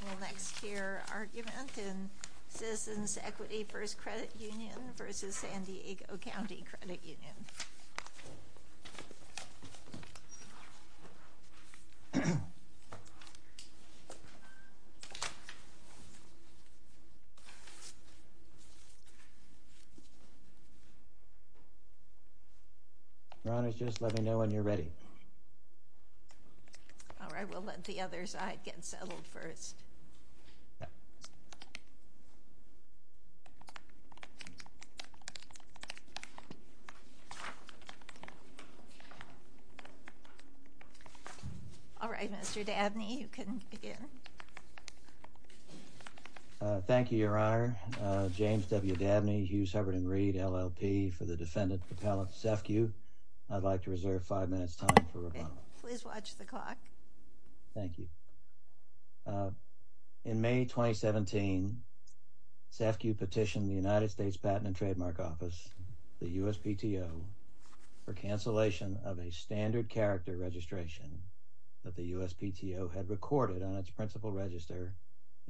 The next here argument in Citizens' Equity First Credit Union v. San Diego County Credit Union Your Honor, just let me know when you're ready All right, we'll let the other side get settled first All right, Mr. Dabney, you can begin James W. Dabney, Hughes, Hubbard & Reed, LLP, for the defendant, propellant, CEFCU I'd like to reserve five minutes' time for rebuttal Please watch the clock Thank you In May 2017, CEFCU petitioned the United States Patent and Trademark Office, the USPTO, for cancellation of a standard character registration that the USPTO had recorded on its principal register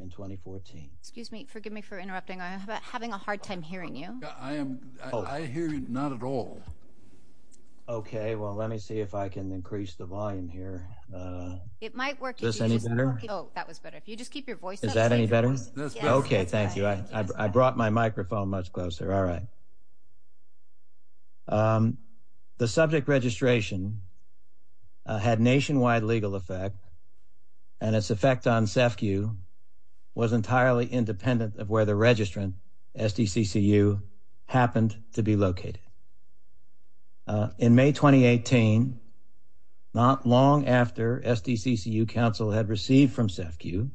in 2014 Excuse me, forgive me for interrupting, I'm having a hard time hearing you I hear you not at all Okay, well let me see if I can increase the volume here Is this any better? Oh, that was better If you just keep your voice up Is that any better? Okay, thank you I brought my microphone much closer All right The subject registration had nationwide legal effect and its effect on CEFCU was entirely independent of where the registrant, SDCCU, happened to be located In May 2018, not long after SDCCU counsel had received from CEFCU,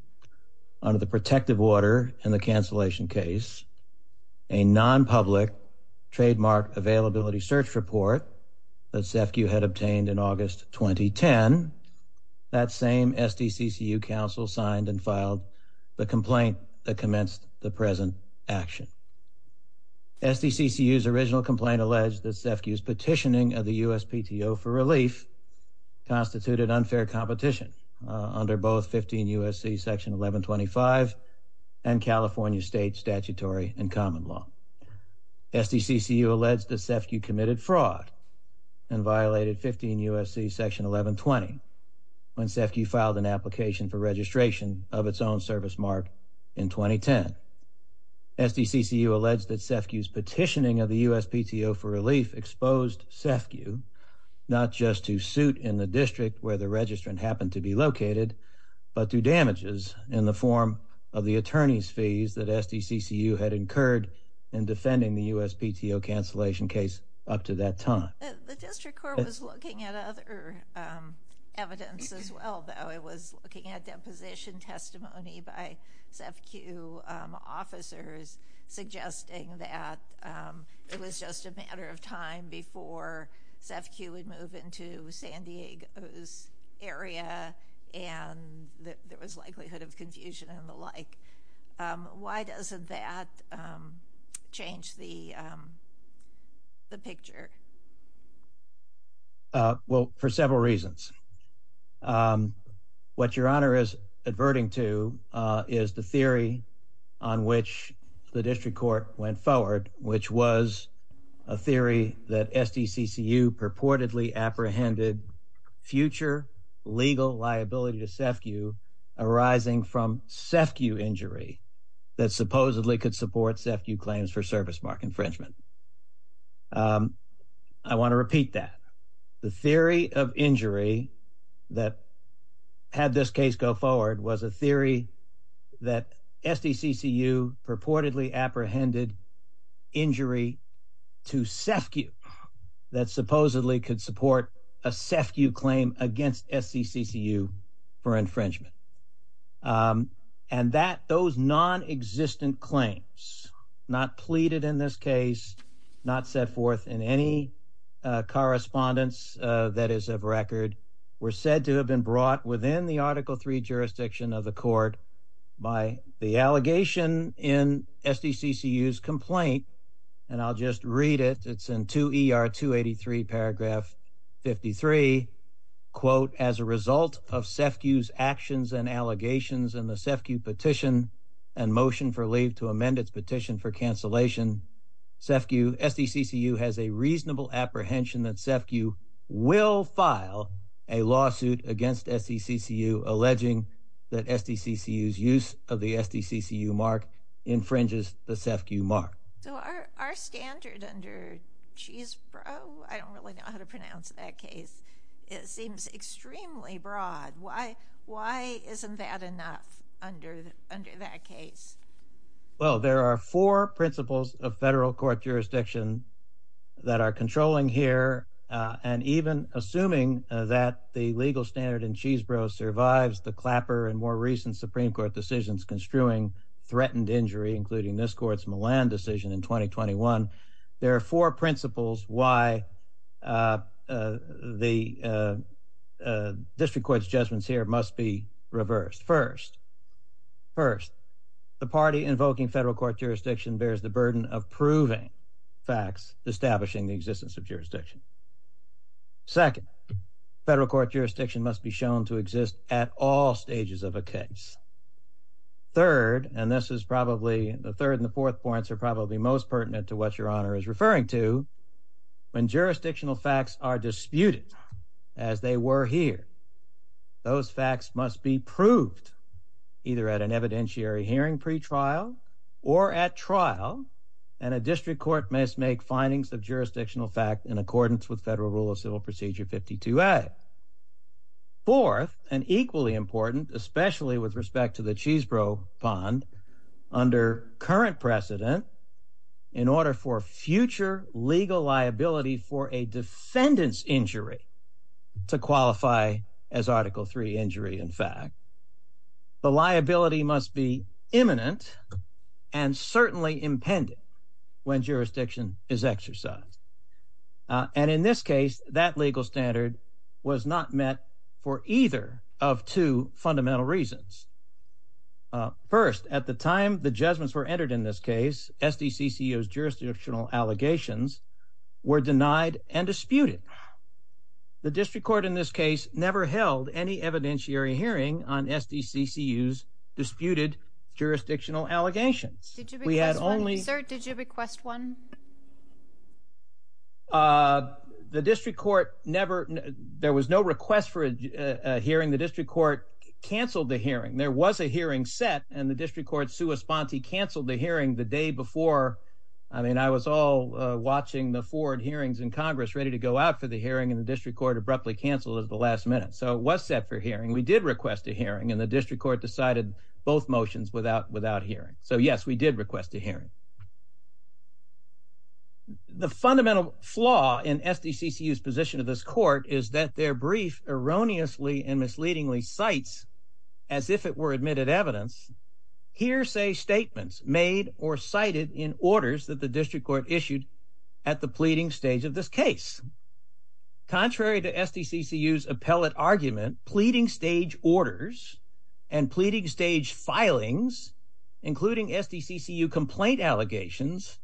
under the protective order in the cancellation case, a non-public trademark availability search report that CEFCU had obtained in August 2010, that same SDCCU counsel signed and filed the complaint that commenced the present action SDCCU's original complaint alleged that CEFCU's petitioning of the USPTO for relief constituted unfair competition under both 15 U.S.C. section 1125 and California state statutory and common law SDCCU alleged that CEFCU committed fraud and violated 15 U.S.C. section 1120 when CEFCU filed an application for registration of its own service mark in 2010 SDCCU alleged that CEFCU's petitioning of the USPTO for relief exposed CEFCU not just to suit in the district where the registrant happened to be located, but to damages in the form of the attorney's fees that SDCCU had incurred in defending the USPTO cancellation case up to that time The district court was looking at other evidence as well though. It was looking at deposition testimony by CEFCU officers suggesting that it was just a matter of time before CEFCU would move into San Diego's area and that there was likelihood of confusion and the like. Why doesn't that change the picture? Well, for several reasons. What Your Honor is adverting to is the theory on which the district court went forward, which was a theory that SDCCU purportedly apprehended future legal liability to CEFCU arising from CEFCU injury that supposedly could support CEFCU claims for service mark infringement. I want to repeat that. The theory of injury that had this case go forward was a theory that SDCCU purportedly apprehended injury to CEFCU that supposedly could support a CEFCU claim against SDCCU for infringement. And that those non-existent claims, not pleaded in this case, not set forth in any correspondence that is of record, were said to have been brought within the Article 3 jurisdiction of the court by the allegation in SDCCU's complaint. And I'll just read it. It's in 2 ER 283 paragraph 53, quote, as a result of CEFCU's actions and allegations and the CEFCU petition and motion for leave to amend its petition for cancellation, CEFCU, SDCCU has a reasonable apprehension that CEFCU will file a lawsuit against SDCCU, alleging that SDCCU's use of the SDCCU mark infringes the CEFCU mark. So our standard under Cheese Bro, I don't really know how to pronounce that case. It seems extremely broad. Why isn't that enough under that case? Well, there are four principles of federal court jurisdiction that are controlling here. And even assuming that the legal standard in Cheese Bro survives the Clapper and more recent Supreme Court decisions construing threatened injury, including this court's Milan decision in 2021, there are four principles why the district court's judgments here must be reversed. First, first, the party invoking federal court jurisdiction bears the burden of proving facts establishing the existence of jurisdiction. Second, federal court jurisdiction must be shown to exist at all stages of a case. Third, and this is probably the third and the fourth points are probably most pertinent to what Your Honor is referring to, when jurisdictional facts are disputed as they were here, those facts must be proved either at an evidentiary hearing pretrial or at trial and a district court must make findings of jurisdictional fact in accordance with federal rule of civil procedure 52A. Fourth, and equally important, especially with respect to the Cheese Bro bond, under current precedent, in order for future legal liability for a defendant's injury to qualify as Article III injury in fact, the liability must be imminent and certainly impending when jurisdiction is exercised. And in this case, that legal standard was not met for either of two fundamental reasons. First, at the time the judgments were entered in this case, SDCCU's jurisdictional allegations were denied and disputed. The district court in this case never held any evidentiary hearing on SDCCU's disputed jurisdictional allegations. Did you request one, sir? Did you request one? The district court never, there was no request for a hearing. The district court canceled the hearing. There was a hearing set and the district court sua sponte canceled the hearing the day before. I mean, I was all watching the forward hearings in Congress ready to go out for the hearing and the district court abruptly canceled at the last minute. So it was set for hearing. We did request a hearing and the district court decided both motions without hearing. So yes, we did request a hearing. The fundamental flaw in SDCCU's position of this court is that their brief erroneously and misleadingly cites as if it were admitted evidence, hearsay statements made or cited in orders that the district court issued at the pleading stage of this case. Contrary to SDCCU's appellate argument, pleading stage orders and pleading stage filings, including SDCCU complaint allegations,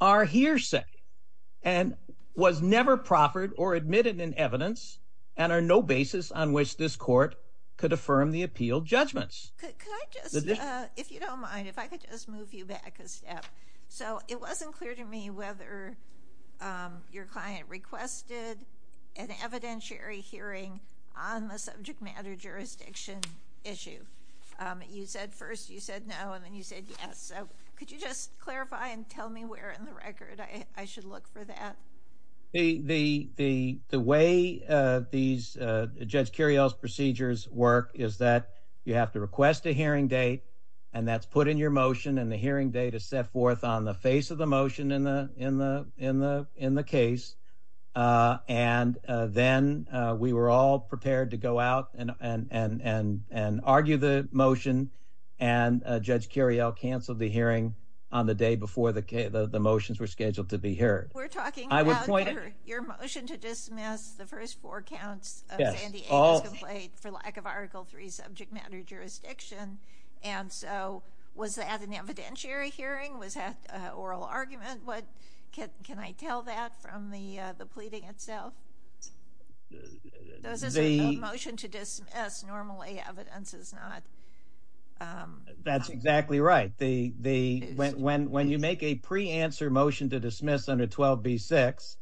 are hearsay and was never proffered or admitted in evidence and are no basis on which this court could affirm the appeal judgments. If you don't mind, if I could just move you back a step. So it wasn't clear to me whether your client requested an evidentiary hearing on the subject matter jurisdiction issue. You said first you said no and then you said yes. So could you just clarify and tell me where in the record I should look for that? The way Judge Curiel's procedures work is that you have to request a hearing date and that's put in your motion and the hearing date is set forth on the face of the motion in the case. And then we were all prepared to go out and argue the motion and Judge Curiel canceled the hearing on the day before the motions were scheduled to be heard. We're talking about your motion to dismiss the first four counts of Sandy Agus' complaint for lack of Article 3 subject matter jurisdiction. And so was that an evidentiary hearing? Was that an oral argument? Can I tell that from the pleading itself? That's exactly right. When you make a pre-answer motion to dismiss under 12b6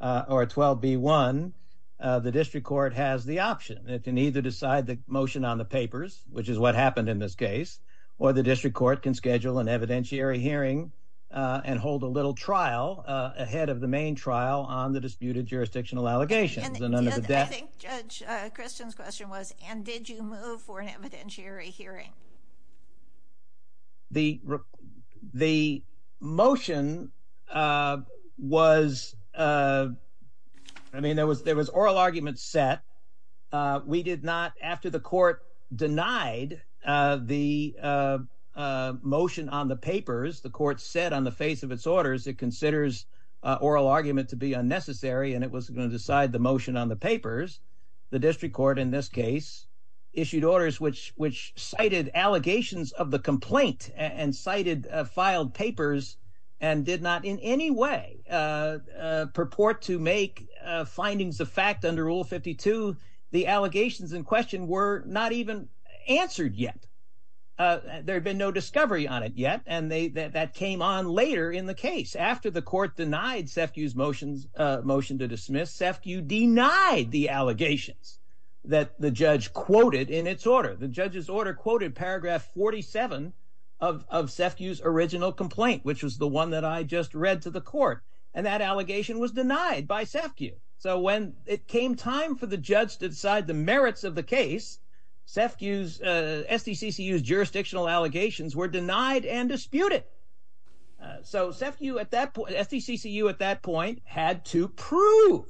or 12b1, the district court has the option. It can either decide the motion on the papers, which is what happened in this case, or the district court can schedule an evidentiary hearing and hold a little trial ahead of the main trial on the disputed jurisdictional allegations. I think Judge Christian's question was, and did you move for an evidentiary hearing? The motion was, I mean, there was oral argument set. We did not, after the court denied the motion on the papers, the court said on the face of its orders, it considers oral argument to be unnecessary and it wasn't going to decide the motion on the papers. The district court in this case issued orders which cited allegations of the complaint and cited filed papers and did not in any way purport to make findings of fact under Rule 52. The allegations in question were not even answered yet. There had been no discovery on it yet, and that came on later in the case. After the court denied Sefkew's motion to dismiss, Sefkew denied the allegations that the judge quoted in its order. The judge's order quoted paragraph 47 of Sefkew's original complaint, which was the one that I just read to the court, and that allegation was denied by Sefkew. So when it came time for the judge to decide the merits of the case, Sefkew's, SDCCU's jurisdictional allegations were denied and disputed. So Sefkew at that point, SDCCU at that point, had to prove,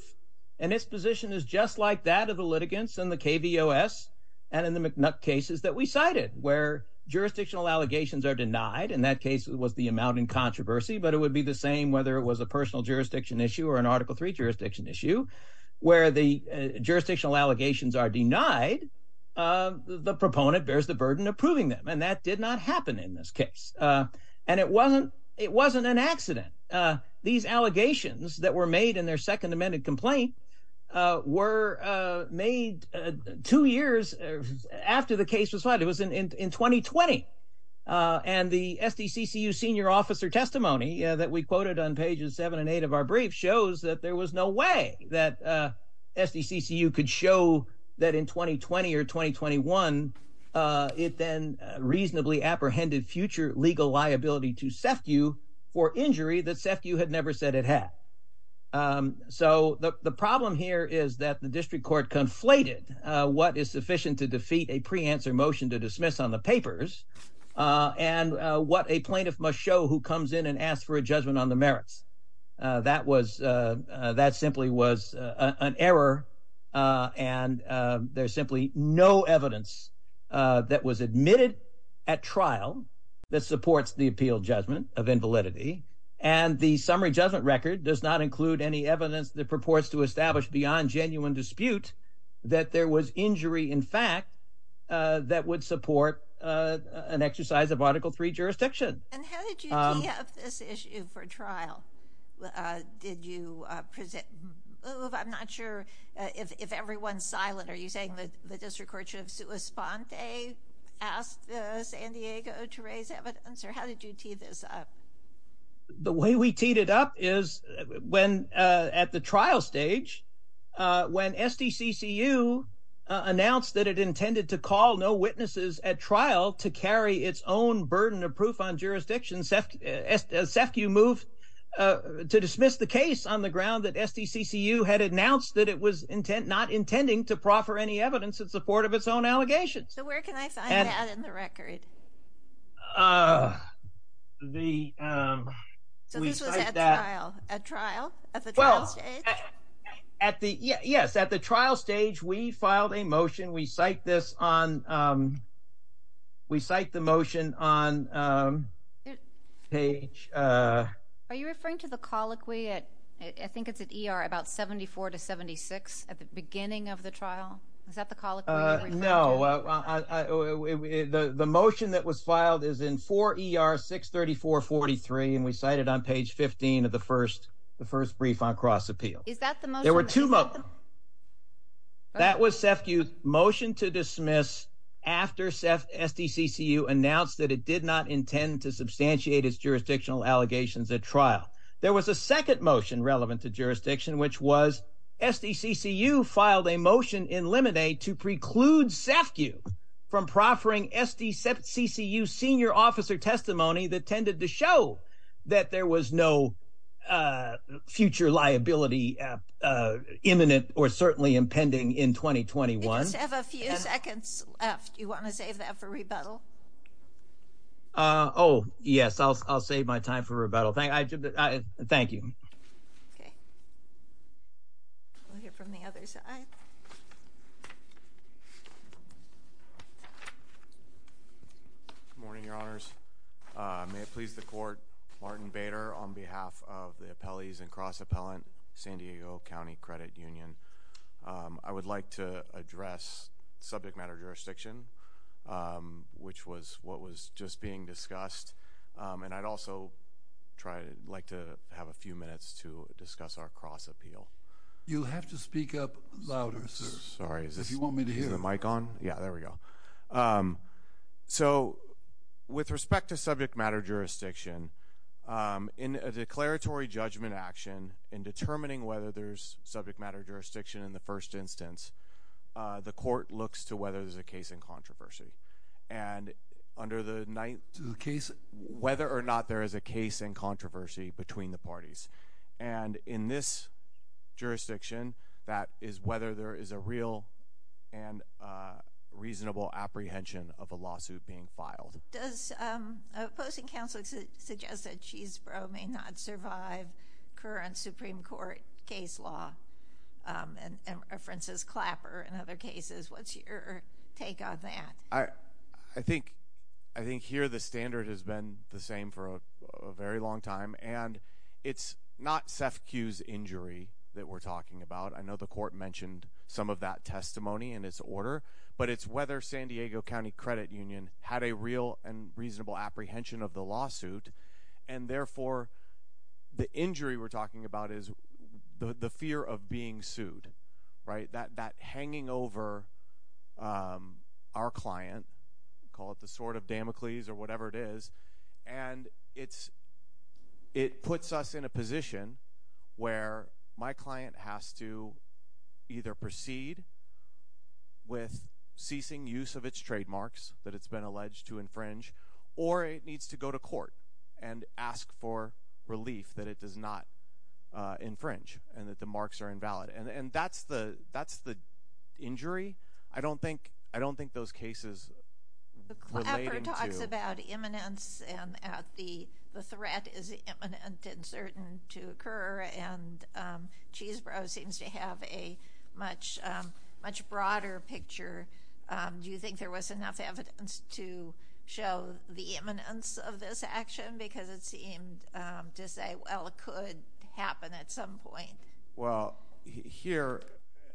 and its position is just like that of the litigants in the KVOS and in the McNutt cases that we cited, where jurisdictional allegations are denied. In that case, it was the amount in controversy, but it would be the same whether it was a personal jurisdiction issue or an Article III jurisdiction issue. Where the jurisdictional allegations are denied, the proponent bears the burden of proving them, and that did not happen in this case, and it wasn't an accident. These allegations that were made in their second amended complaint were made two years after the case was filed. It was in 2020, and the SDCCU senior officer testimony that we quoted on pages seven and eight of our brief shows that there was no way that SDCCU could show that in 2020 or 2021, it then reasonably apprehended future legal liability to Sefkew for injury that Sefkew had never said it had. So the problem here is that the district court conflated what is sufficient to defeat a pre-answer motion to dismiss on the papers and what a plaintiff must show who comes in and asks for a judgment on the merits. That simply was an error, and there's simply no evidence that was admitted at trial that supports the appeal judgment of invalidity, and the summary judgment record does not include any evidence that purports to establish beyond genuine dispute that there was injury in fact that would support an exercise of Article III jurisdiction. And how did you tee up this issue for trial? Did you move? I'm not sure if everyone's silent. Are you saying that the district court should have sua sponte asked the San Diego to raise evidence, or how did you tee this up? The way we teed it up is when at the trial stage, when SDCCU announced that it intended to call no witnesses at trial to carry its own burden of proof on jurisdiction, Sefkew moved to dismiss the case on the ground that SDCCU had announced that it was not intending to proffer any evidence in support of its own allegations. So where can I find that in the record? So this was at trial, at the trial stage? Yes, at the trial stage, we filed a motion. We cite this on, we cite the motion on page... Are you referring to the colloquy at, I think it's at ER, about 74 to 76 at the beginning of the trial? Is that the colloquy you're referring to? No, the motion that was filed is in 4 ER 63443, and we cite it on page 15 of the first, the first brief on cross appeal. Is that the motion? That was Sefkew's motion to dismiss after SDCCU announced that it did not intend to substantiate its jurisdictional allegations at trial. There was a second motion relevant to jurisdiction, which was SDCCU filed a motion in Lemonade to preclude Sefkew from proffering SDCCU senior officer testimony that tended to show that there was no future liability imminent or certainly impending in 2021. You just have a few seconds left. Do you want to save that for rebuttal? Oh, yes, I'll save my time for rebuttal. Thank you. Okay. We'll hear from the other side. Good morning, Your Honors. May it please the court. Martin Bader on behalf of the appellees and cross appellant, San Diego County Credit Union. I would like to address subject matter jurisdiction, which was what was just being discussed. And I'd also try to like to have a few minutes to discuss our cross appeal. You'll have to speak up louder, sir, if you want me to hear the mic on. Yeah, there we go. So with respect to subject matter jurisdiction in a declaratory judgment action in determining whether there's subject matter jurisdiction in the first instance, the court looks to whether there's a case in controversy and under the case, whether or not there is a case in controversy between the parties. And in this jurisdiction, that is whether there is a real and reasonable apprehension of a lawsuit being filed. Does opposing counsel suggest that she's may not survive current Supreme Court case law and references Clapper and other cases? What's your take on that? I think I think here the standard has been the same for a very long time, and it's not SEFCU's injury that we're talking about. I know the court mentioned some of that testimony in its order, but it's whether San Diego County Credit Union had a real and reasonable apprehension of the lawsuit. And therefore, the injury we're talking about is the fear of being sued, right, that hanging over our client, call it the sword of Damocles or whatever it is. And it's it puts us in a position where my client has to either proceed with ceasing use of its trademarks that it's been alleged to infringe or it needs to go to court and ask for relief that it does not infringe and that the marks are invalid. And that's the that's the injury. I don't think I don't think those cases. Clapper talks about imminence and the threat is imminent and certain to occur. And Chesebrough seems to have a much, much broader picture. Do you think there was enough evidence to show the imminence of this action? Because it seemed to say, well, it could happen at some point. Well, here,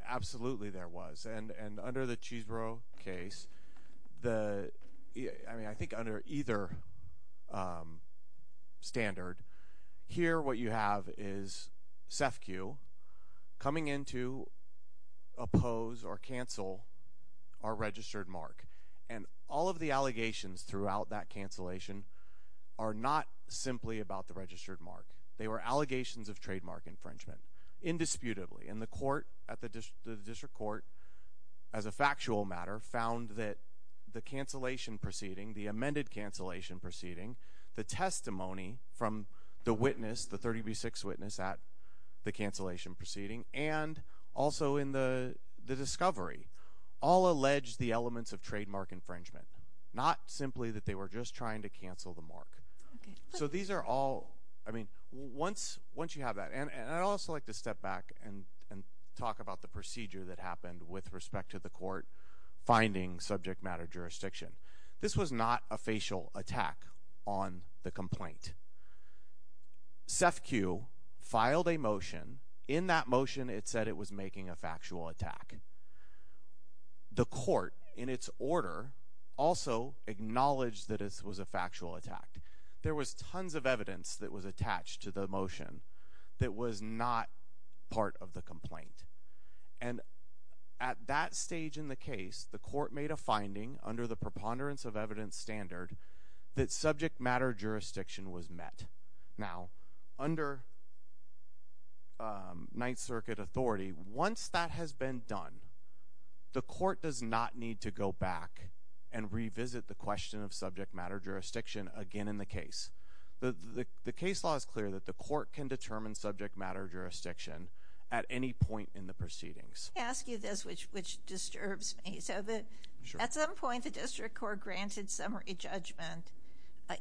absolutely there was. And and under the Chesebrough case, the I mean, I think under either standard here, what you have is SEFCU coming in to oppose or cancel our registered mark. And all of the allegations throughout that cancellation are not simply about the registered mark. They were allegations of trademark infringement indisputably in the court at the district court as a factual matter, found that the cancellation proceeding, the amended cancellation proceeding, the testimony from the witness, the 36 witness at the cancellation proceeding and also in the discovery all allege the elements of trademark infringement, not simply that they were just trying to cancel the mark. So these are all I mean, once once you have that, and I'd also like to step back and talk about the procedure that happened with respect to the court finding subject matter jurisdiction. This was not a facial attack on the complaint. SEFCU filed a motion in that motion. It said it was making a factual attack. The court in its order also acknowledged that it was a factual attack. There was tons of evidence that was attached to the motion that was not part of the complaint. And at that stage in the case, the court made a finding under the preponderance of evidence standard that subject matter jurisdiction was met. Now, under Ninth Circuit authority, once that has been done, the court does not need to go back and revisit the question of subject matter jurisdiction again in the case. The case law is clear that the court can determine subject matter jurisdiction at any point in the proceedings. I ask you this, which which disturbs me, so that at some point the district court granted summary judgment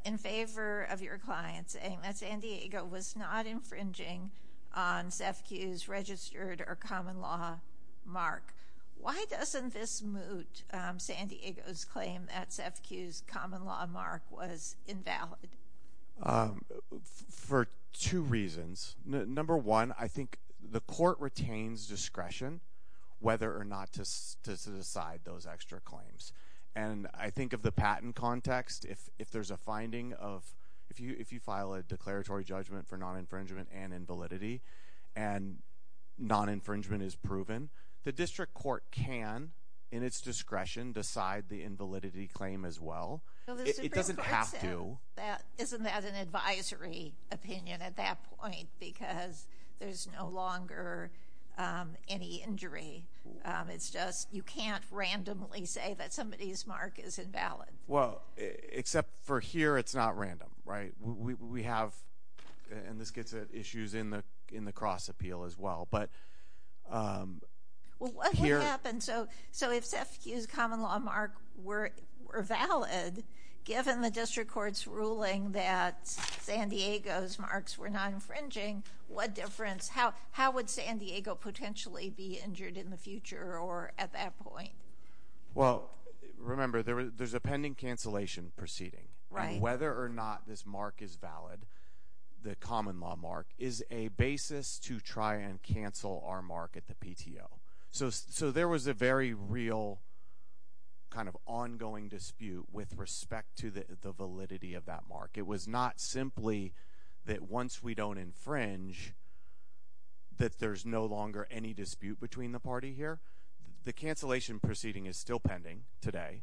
in favor of your client saying that San Diego was not infringing on SEFCU's registered or common law mark. Why doesn't this moot San Diego's claim that SEFCU's common law mark was invalid? For two reasons. Number one, I think the court retains discretion whether or not to decide those extra claims. And I think of the patent context, if there's a finding of if you file a declaratory judgment for non-infringement and invalidity and non-infringement is proven, the district court can in its discretion decide the invalidity claim as well. It doesn't have to. Isn't that an advisory opinion at that point? Because there's no longer any injury. It's just you can't randomly say that somebody's mark is invalid. Well, except for here, it's not random, right? We have, and this gets at issues in the cross appeal as well. What would happen, so if SEFCU's common law mark were valid, given the district court's ruling that San Diego's marks were not infringing, what difference, how would San Diego potentially be injured in the future or at that point? Well, remember, there's a pending cancellation proceeding. Whether or not this mark is valid, the common law mark, is a basis to try and cancel our mark at the PTO. So there was a very real kind of ongoing dispute with respect to the validity of that mark. It was not simply that once we don't infringe that there's no longer any dispute between the party here. The cancellation proceeding is still pending today,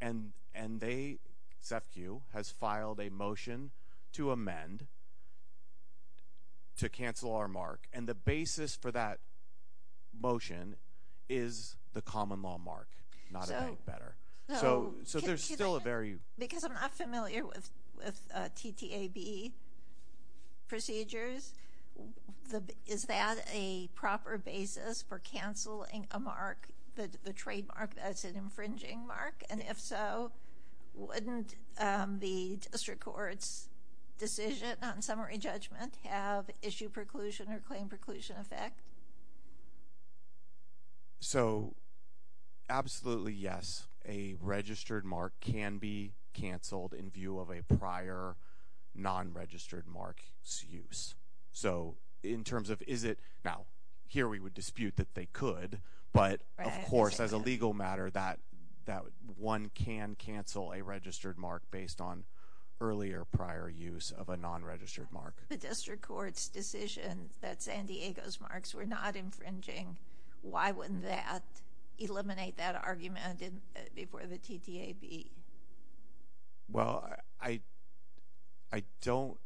and they, SEFCU, has filed a motion to amend to cancel our mark. And the basis for that motion is the common law mark, not anything better. So there's still a very- Because I'm not familiar with TTAB procedures. Is that a proper basis for canceling a mark, the trademark that's an infringing mark? And if so, wouldn't the district court's decision on summary judgment have issue preclusion or claim preclusion effect? So absolutely, yes. A registered mark can be canceled in view of a prior non-registered mark's use. So in terms of is it- now, here we would dispute that they could, but of course, as a legal matter, that one can cancel a registered mark based on earlier prior use of a non-registered mark. If the district court's decision that San Diego's marks were not infringing, why wouldn't that eliminate that argument before the TTAB? Well, I don't-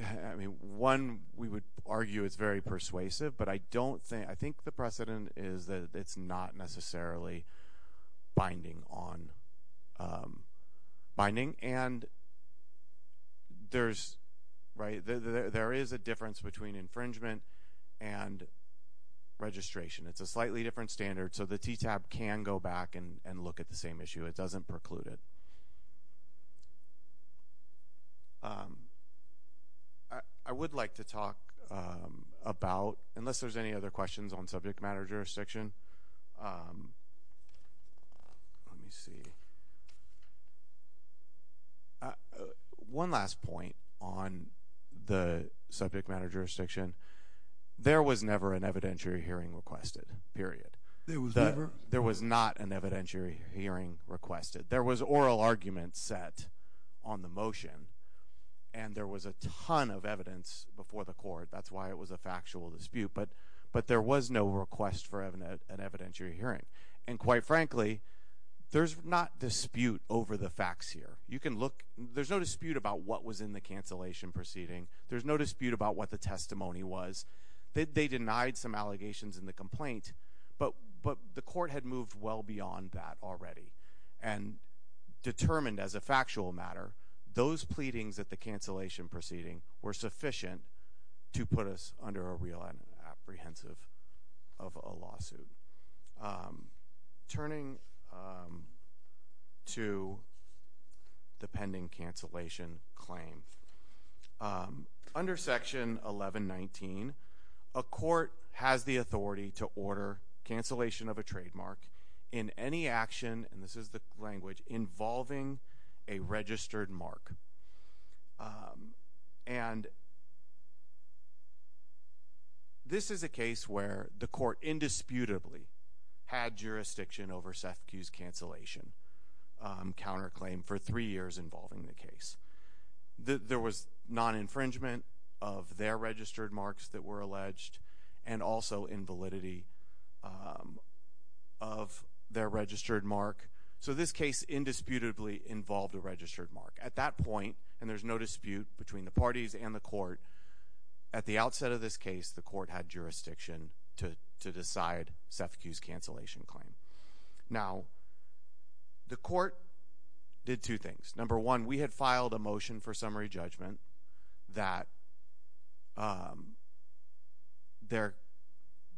I mean, one, we would argue it's very persuasive, but I don't think- I think the precedent is that it's not necessarily binding on- binding. And there's- right? There is a difference between infringement and registration. It's a slightly different standard, so the TTAB can go back and look at the same issue. It doesn't preclude it. I would like to talk about- unless there's any other questions on subject matter jurisdiction. Let me see. One last point on the subject matter jurisdiction. There was never an evidentiary hearing requested, period. There was never? There was not an evidentiary hearing requested. There was oral argument set on the motion, and there was a ton of evidence before the court. That's why it was a factual dispute. But there was no request for an evidentiary hearing. And quite frankly, there's not dispute over the facts here. You can look- there's no dispute about what was in the cancellation proceeding. There's no dispute about what the testimony was. They denied some allegations in the complaint, but the court had moved well beyond that already and determined as a factual matter those pleadings at the cancellation proceeding were sufficient to put us under a real apprehensive of a lawsuit. Turning to the pending cancellation claim. Under Section 1119, a court has the authority to order cancellation of a trademark in any action- and this is a case where the court indisputably had jurisdiction over SEFCU's cancellation counterclaim for three years involving the case. There was non-infringement of their registered marks that were alleged, and also invalidity of their registered mark. So this case indisputably involved a registered mark. At that point, and there's no dispute between the parties and the court, at the outset of this case the court had jurisdiction to decide SEFCU's cancellation claim. Now, the court did two things. Number one, we had filed a motion for summary judgment that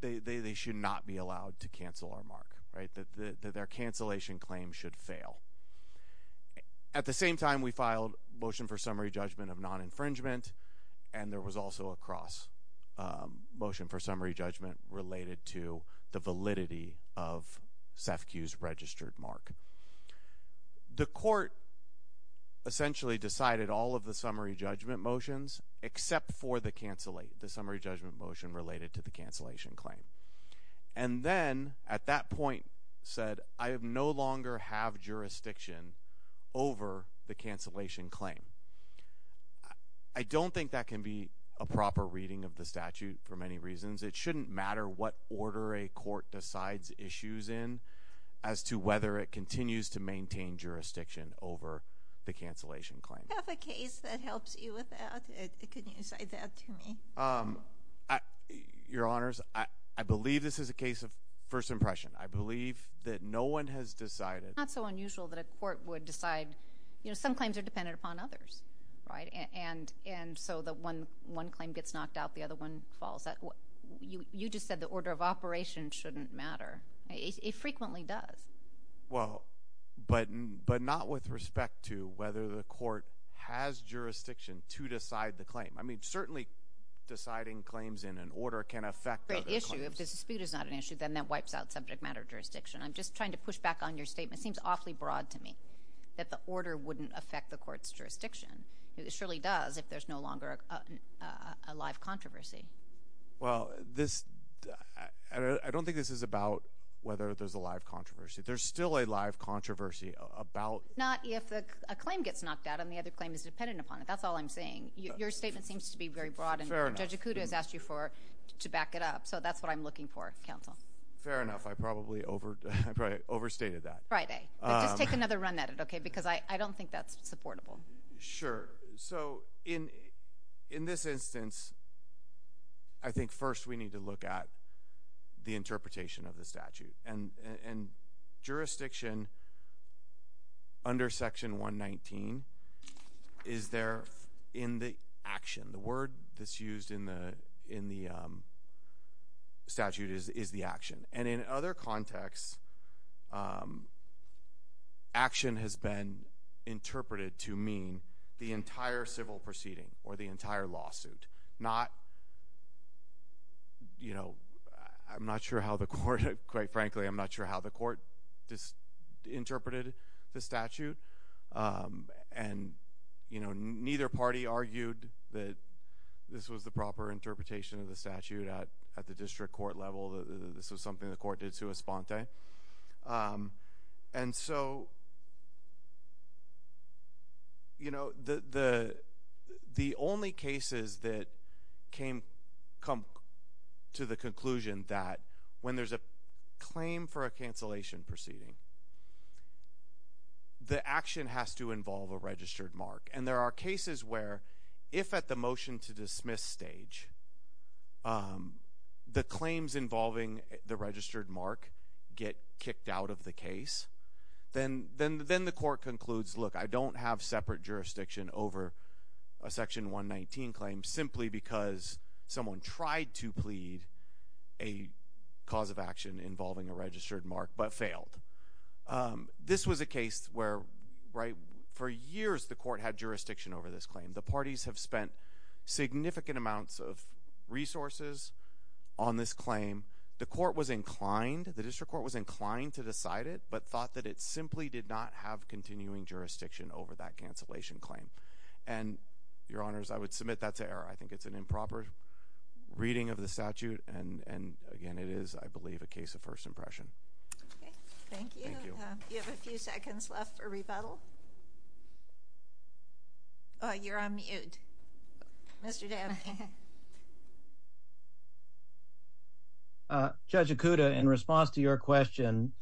they should not be allowed to cancel our mark. That their cancellation claim should fail. At the same time, we filed a motion for summary judgment of non-infringement, and there was also a motion for summary judgment related to the validity of SEFCU's registered mark. The court essentially decided all of the summary judgment motions, except for the summary judgment motion related to the cancellation claim. And then at that point said, I no longer have jurisdiction over the cancellation claim. I don't think that can be a proper reading of the statute for many reasons. It shouldn't matter what order a court decides issues in as to whether it continues to maintain jurisdiction over the cancellation claim. Do you have a case that helps you with that? Can you cite that to me? Your Honors, I believe this is a case of first impression. I believe that no one has decided. It's not so unusual that a court would decide. Some claims are dependent upon others, right? And so the one claim gets knocked out, the other one falls. You just said the order of operation shouldn't matter. It frequently does. Well, but not with respect to whether the court has jurisdiction to decide the claim. I mean, certainly deciding claims in an order can affect other claims. If the dispute is not an issue, then that wipes out subject matter jurisdiction. I'm just trying to push back on your statement. It seems awfully broad to me that the order wouldn't affect the court's jurisdiction. It surely does if there's no longer a live controversy. Well, I don't think this is about whether there's a live controversy. There's still a live controversy about— Not if a claim gets knocked out and the other claim is dependent upon it. That's all I'm saying. Your statement seems to be very broad, and Judge Acuda has asked you to back it up. So that's what I'm looking for, counsel. Fair enough. I probably overstated that. Friday. Just take another run at it, okay? Because I don't think that's supportable. Sure. So in this instance, I think first we need to look at the interpretation of the statute. And jurisdiction under Section 119 is there in the action. The word that's used in the statute is the action. And in other contexts, action has been interpreted to mean the entire civil proceeding or the entire lawsuit. I'm not sure how the court—quite frankly, I'm not sure how the court interpreted the statute. And neither party argued that this was the proper interpretation of the statute at the district court level. This was something the court did sua sponte. And so, you know, the only cases that come to the conclusion that when there's a claim for a cancellation proceeding, the action has to involve a registered mark. And there are cases where if at the motion to dismiss stage the claims involving the registered mark get kicked out of the case, then the court concludes, look, I don't have separate jurisdiction over a Section 119 claim simply because someone tried to plead a cause of action involving a registered mark but failed. This was a case where, right, for years the court had jurisdiction over this claim. The parties have spent significant amounts of resources on this claim. The court was inclined—the district court was inclined to decide it but thought that it simply did not have continuing jurisdiction over that cancellation claim. And, Your Honors, I would submit that's an error. I think it's an improper reading of the statute. And, again, it is, I believe, a case of first impression. Okay. Thank you. Thank you. You have a few seconds left for rebuttal. Oh, you're on mute. Mr. Dan. Judge Okuda, in response to your question,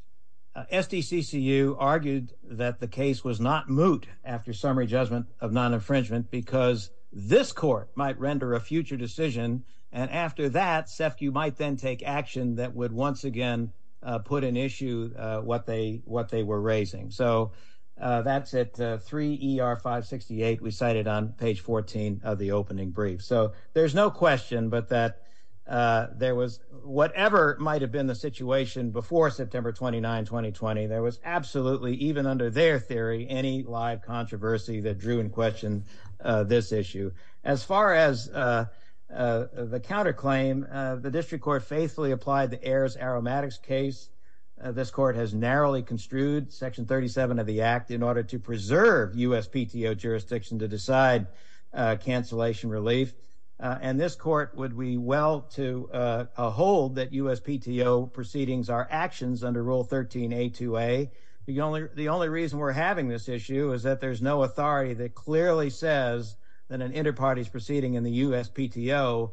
SDCCU argued that the case was not moot after summary judgment of non-infringement because this court might render a future decision. And after that, SEFCU might then take action that would once again put in issue what they were raising. So that's it. 3 ER 568 we cited on page 14 of the opening brief. So there's no question but that there was—whatever might have been the situation before September 29, 2020, there was absolutely, even under their theory, any live controversy that drew in question this issue. As far as the counterclaim, the district court faithfully applied the Ayers-Aromatics case. This court has narrowly construed Section 37 of the Act in order to preserve USPTO jurisdiction to decide cancellation relief. And this court would be well to hold that USPTO proceedings are actions under Rule 13a2a. The only reason we're having this issue is that there's no authority that clearly says that an interparty's proceeding in the USPTO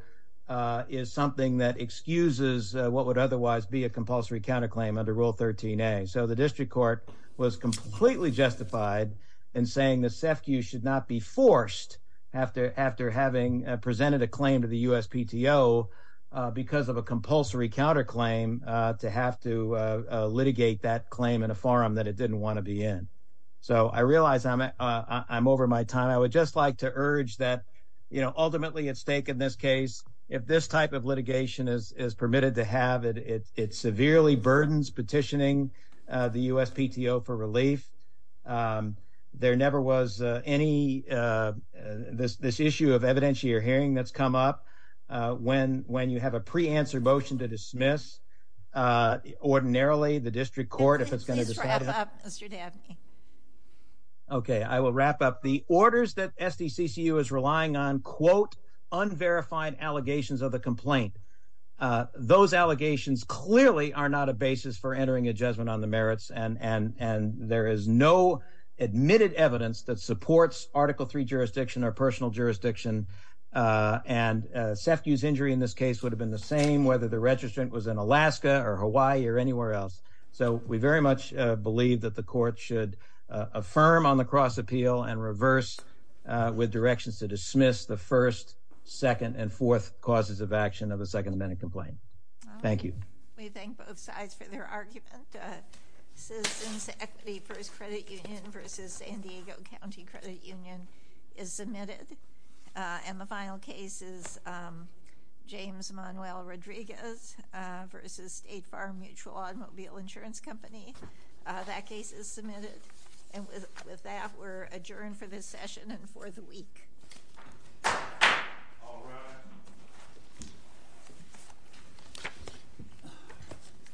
is something that excuses what would otherwise be a compulsory counterclaim under Rule 13a. So the district court was completely justified in saying that SEFCU should not be forced after having presented a claim to the USPTO because of a compulsory counterclaim to have to litigate that claim in a forum that it didn't want to be in. So I realize I'm over my time. I would just like to urge that, you know, ultimately at stake in this case, if this type of litigation is permitted to have, it severely burdens petitioning the USPTO for relief. There never was any, this issue of evidentiary hearing that's come up. When you have a pre-answer motion to dismiss, ordinarily the district court, if it's going to decide... Could you please wrap up, Mr. Dabney? Okay, I will wrap up. The orders that SDCCU is relying on, quote, unverified allegations of the complaint. Those allegations clearly are not a basis for entering a judgment on the merits and there is no admitted evidence that supports Article 3 jurisdiction or personal jurisdiction. And SEFCU's injury in this case would have been the same whether the registrant was in Alaska or Hawaii or anywhere else. So we very much believe that the court should affirm on the cross appeal and reverse with directions to dismiss the first, second, and fourth causes of action of a second amendment complaint. Thank you. We thank both sides for their argument. Citizens Equity First Credit Union versus San Diego County Credit Union is submitted. And the final case is James Manuel Rodriguez versus State Farm Mutual Automobile Insurance Company. That case is submitted. And with that, we're adjourned for this session and for the week. All rise.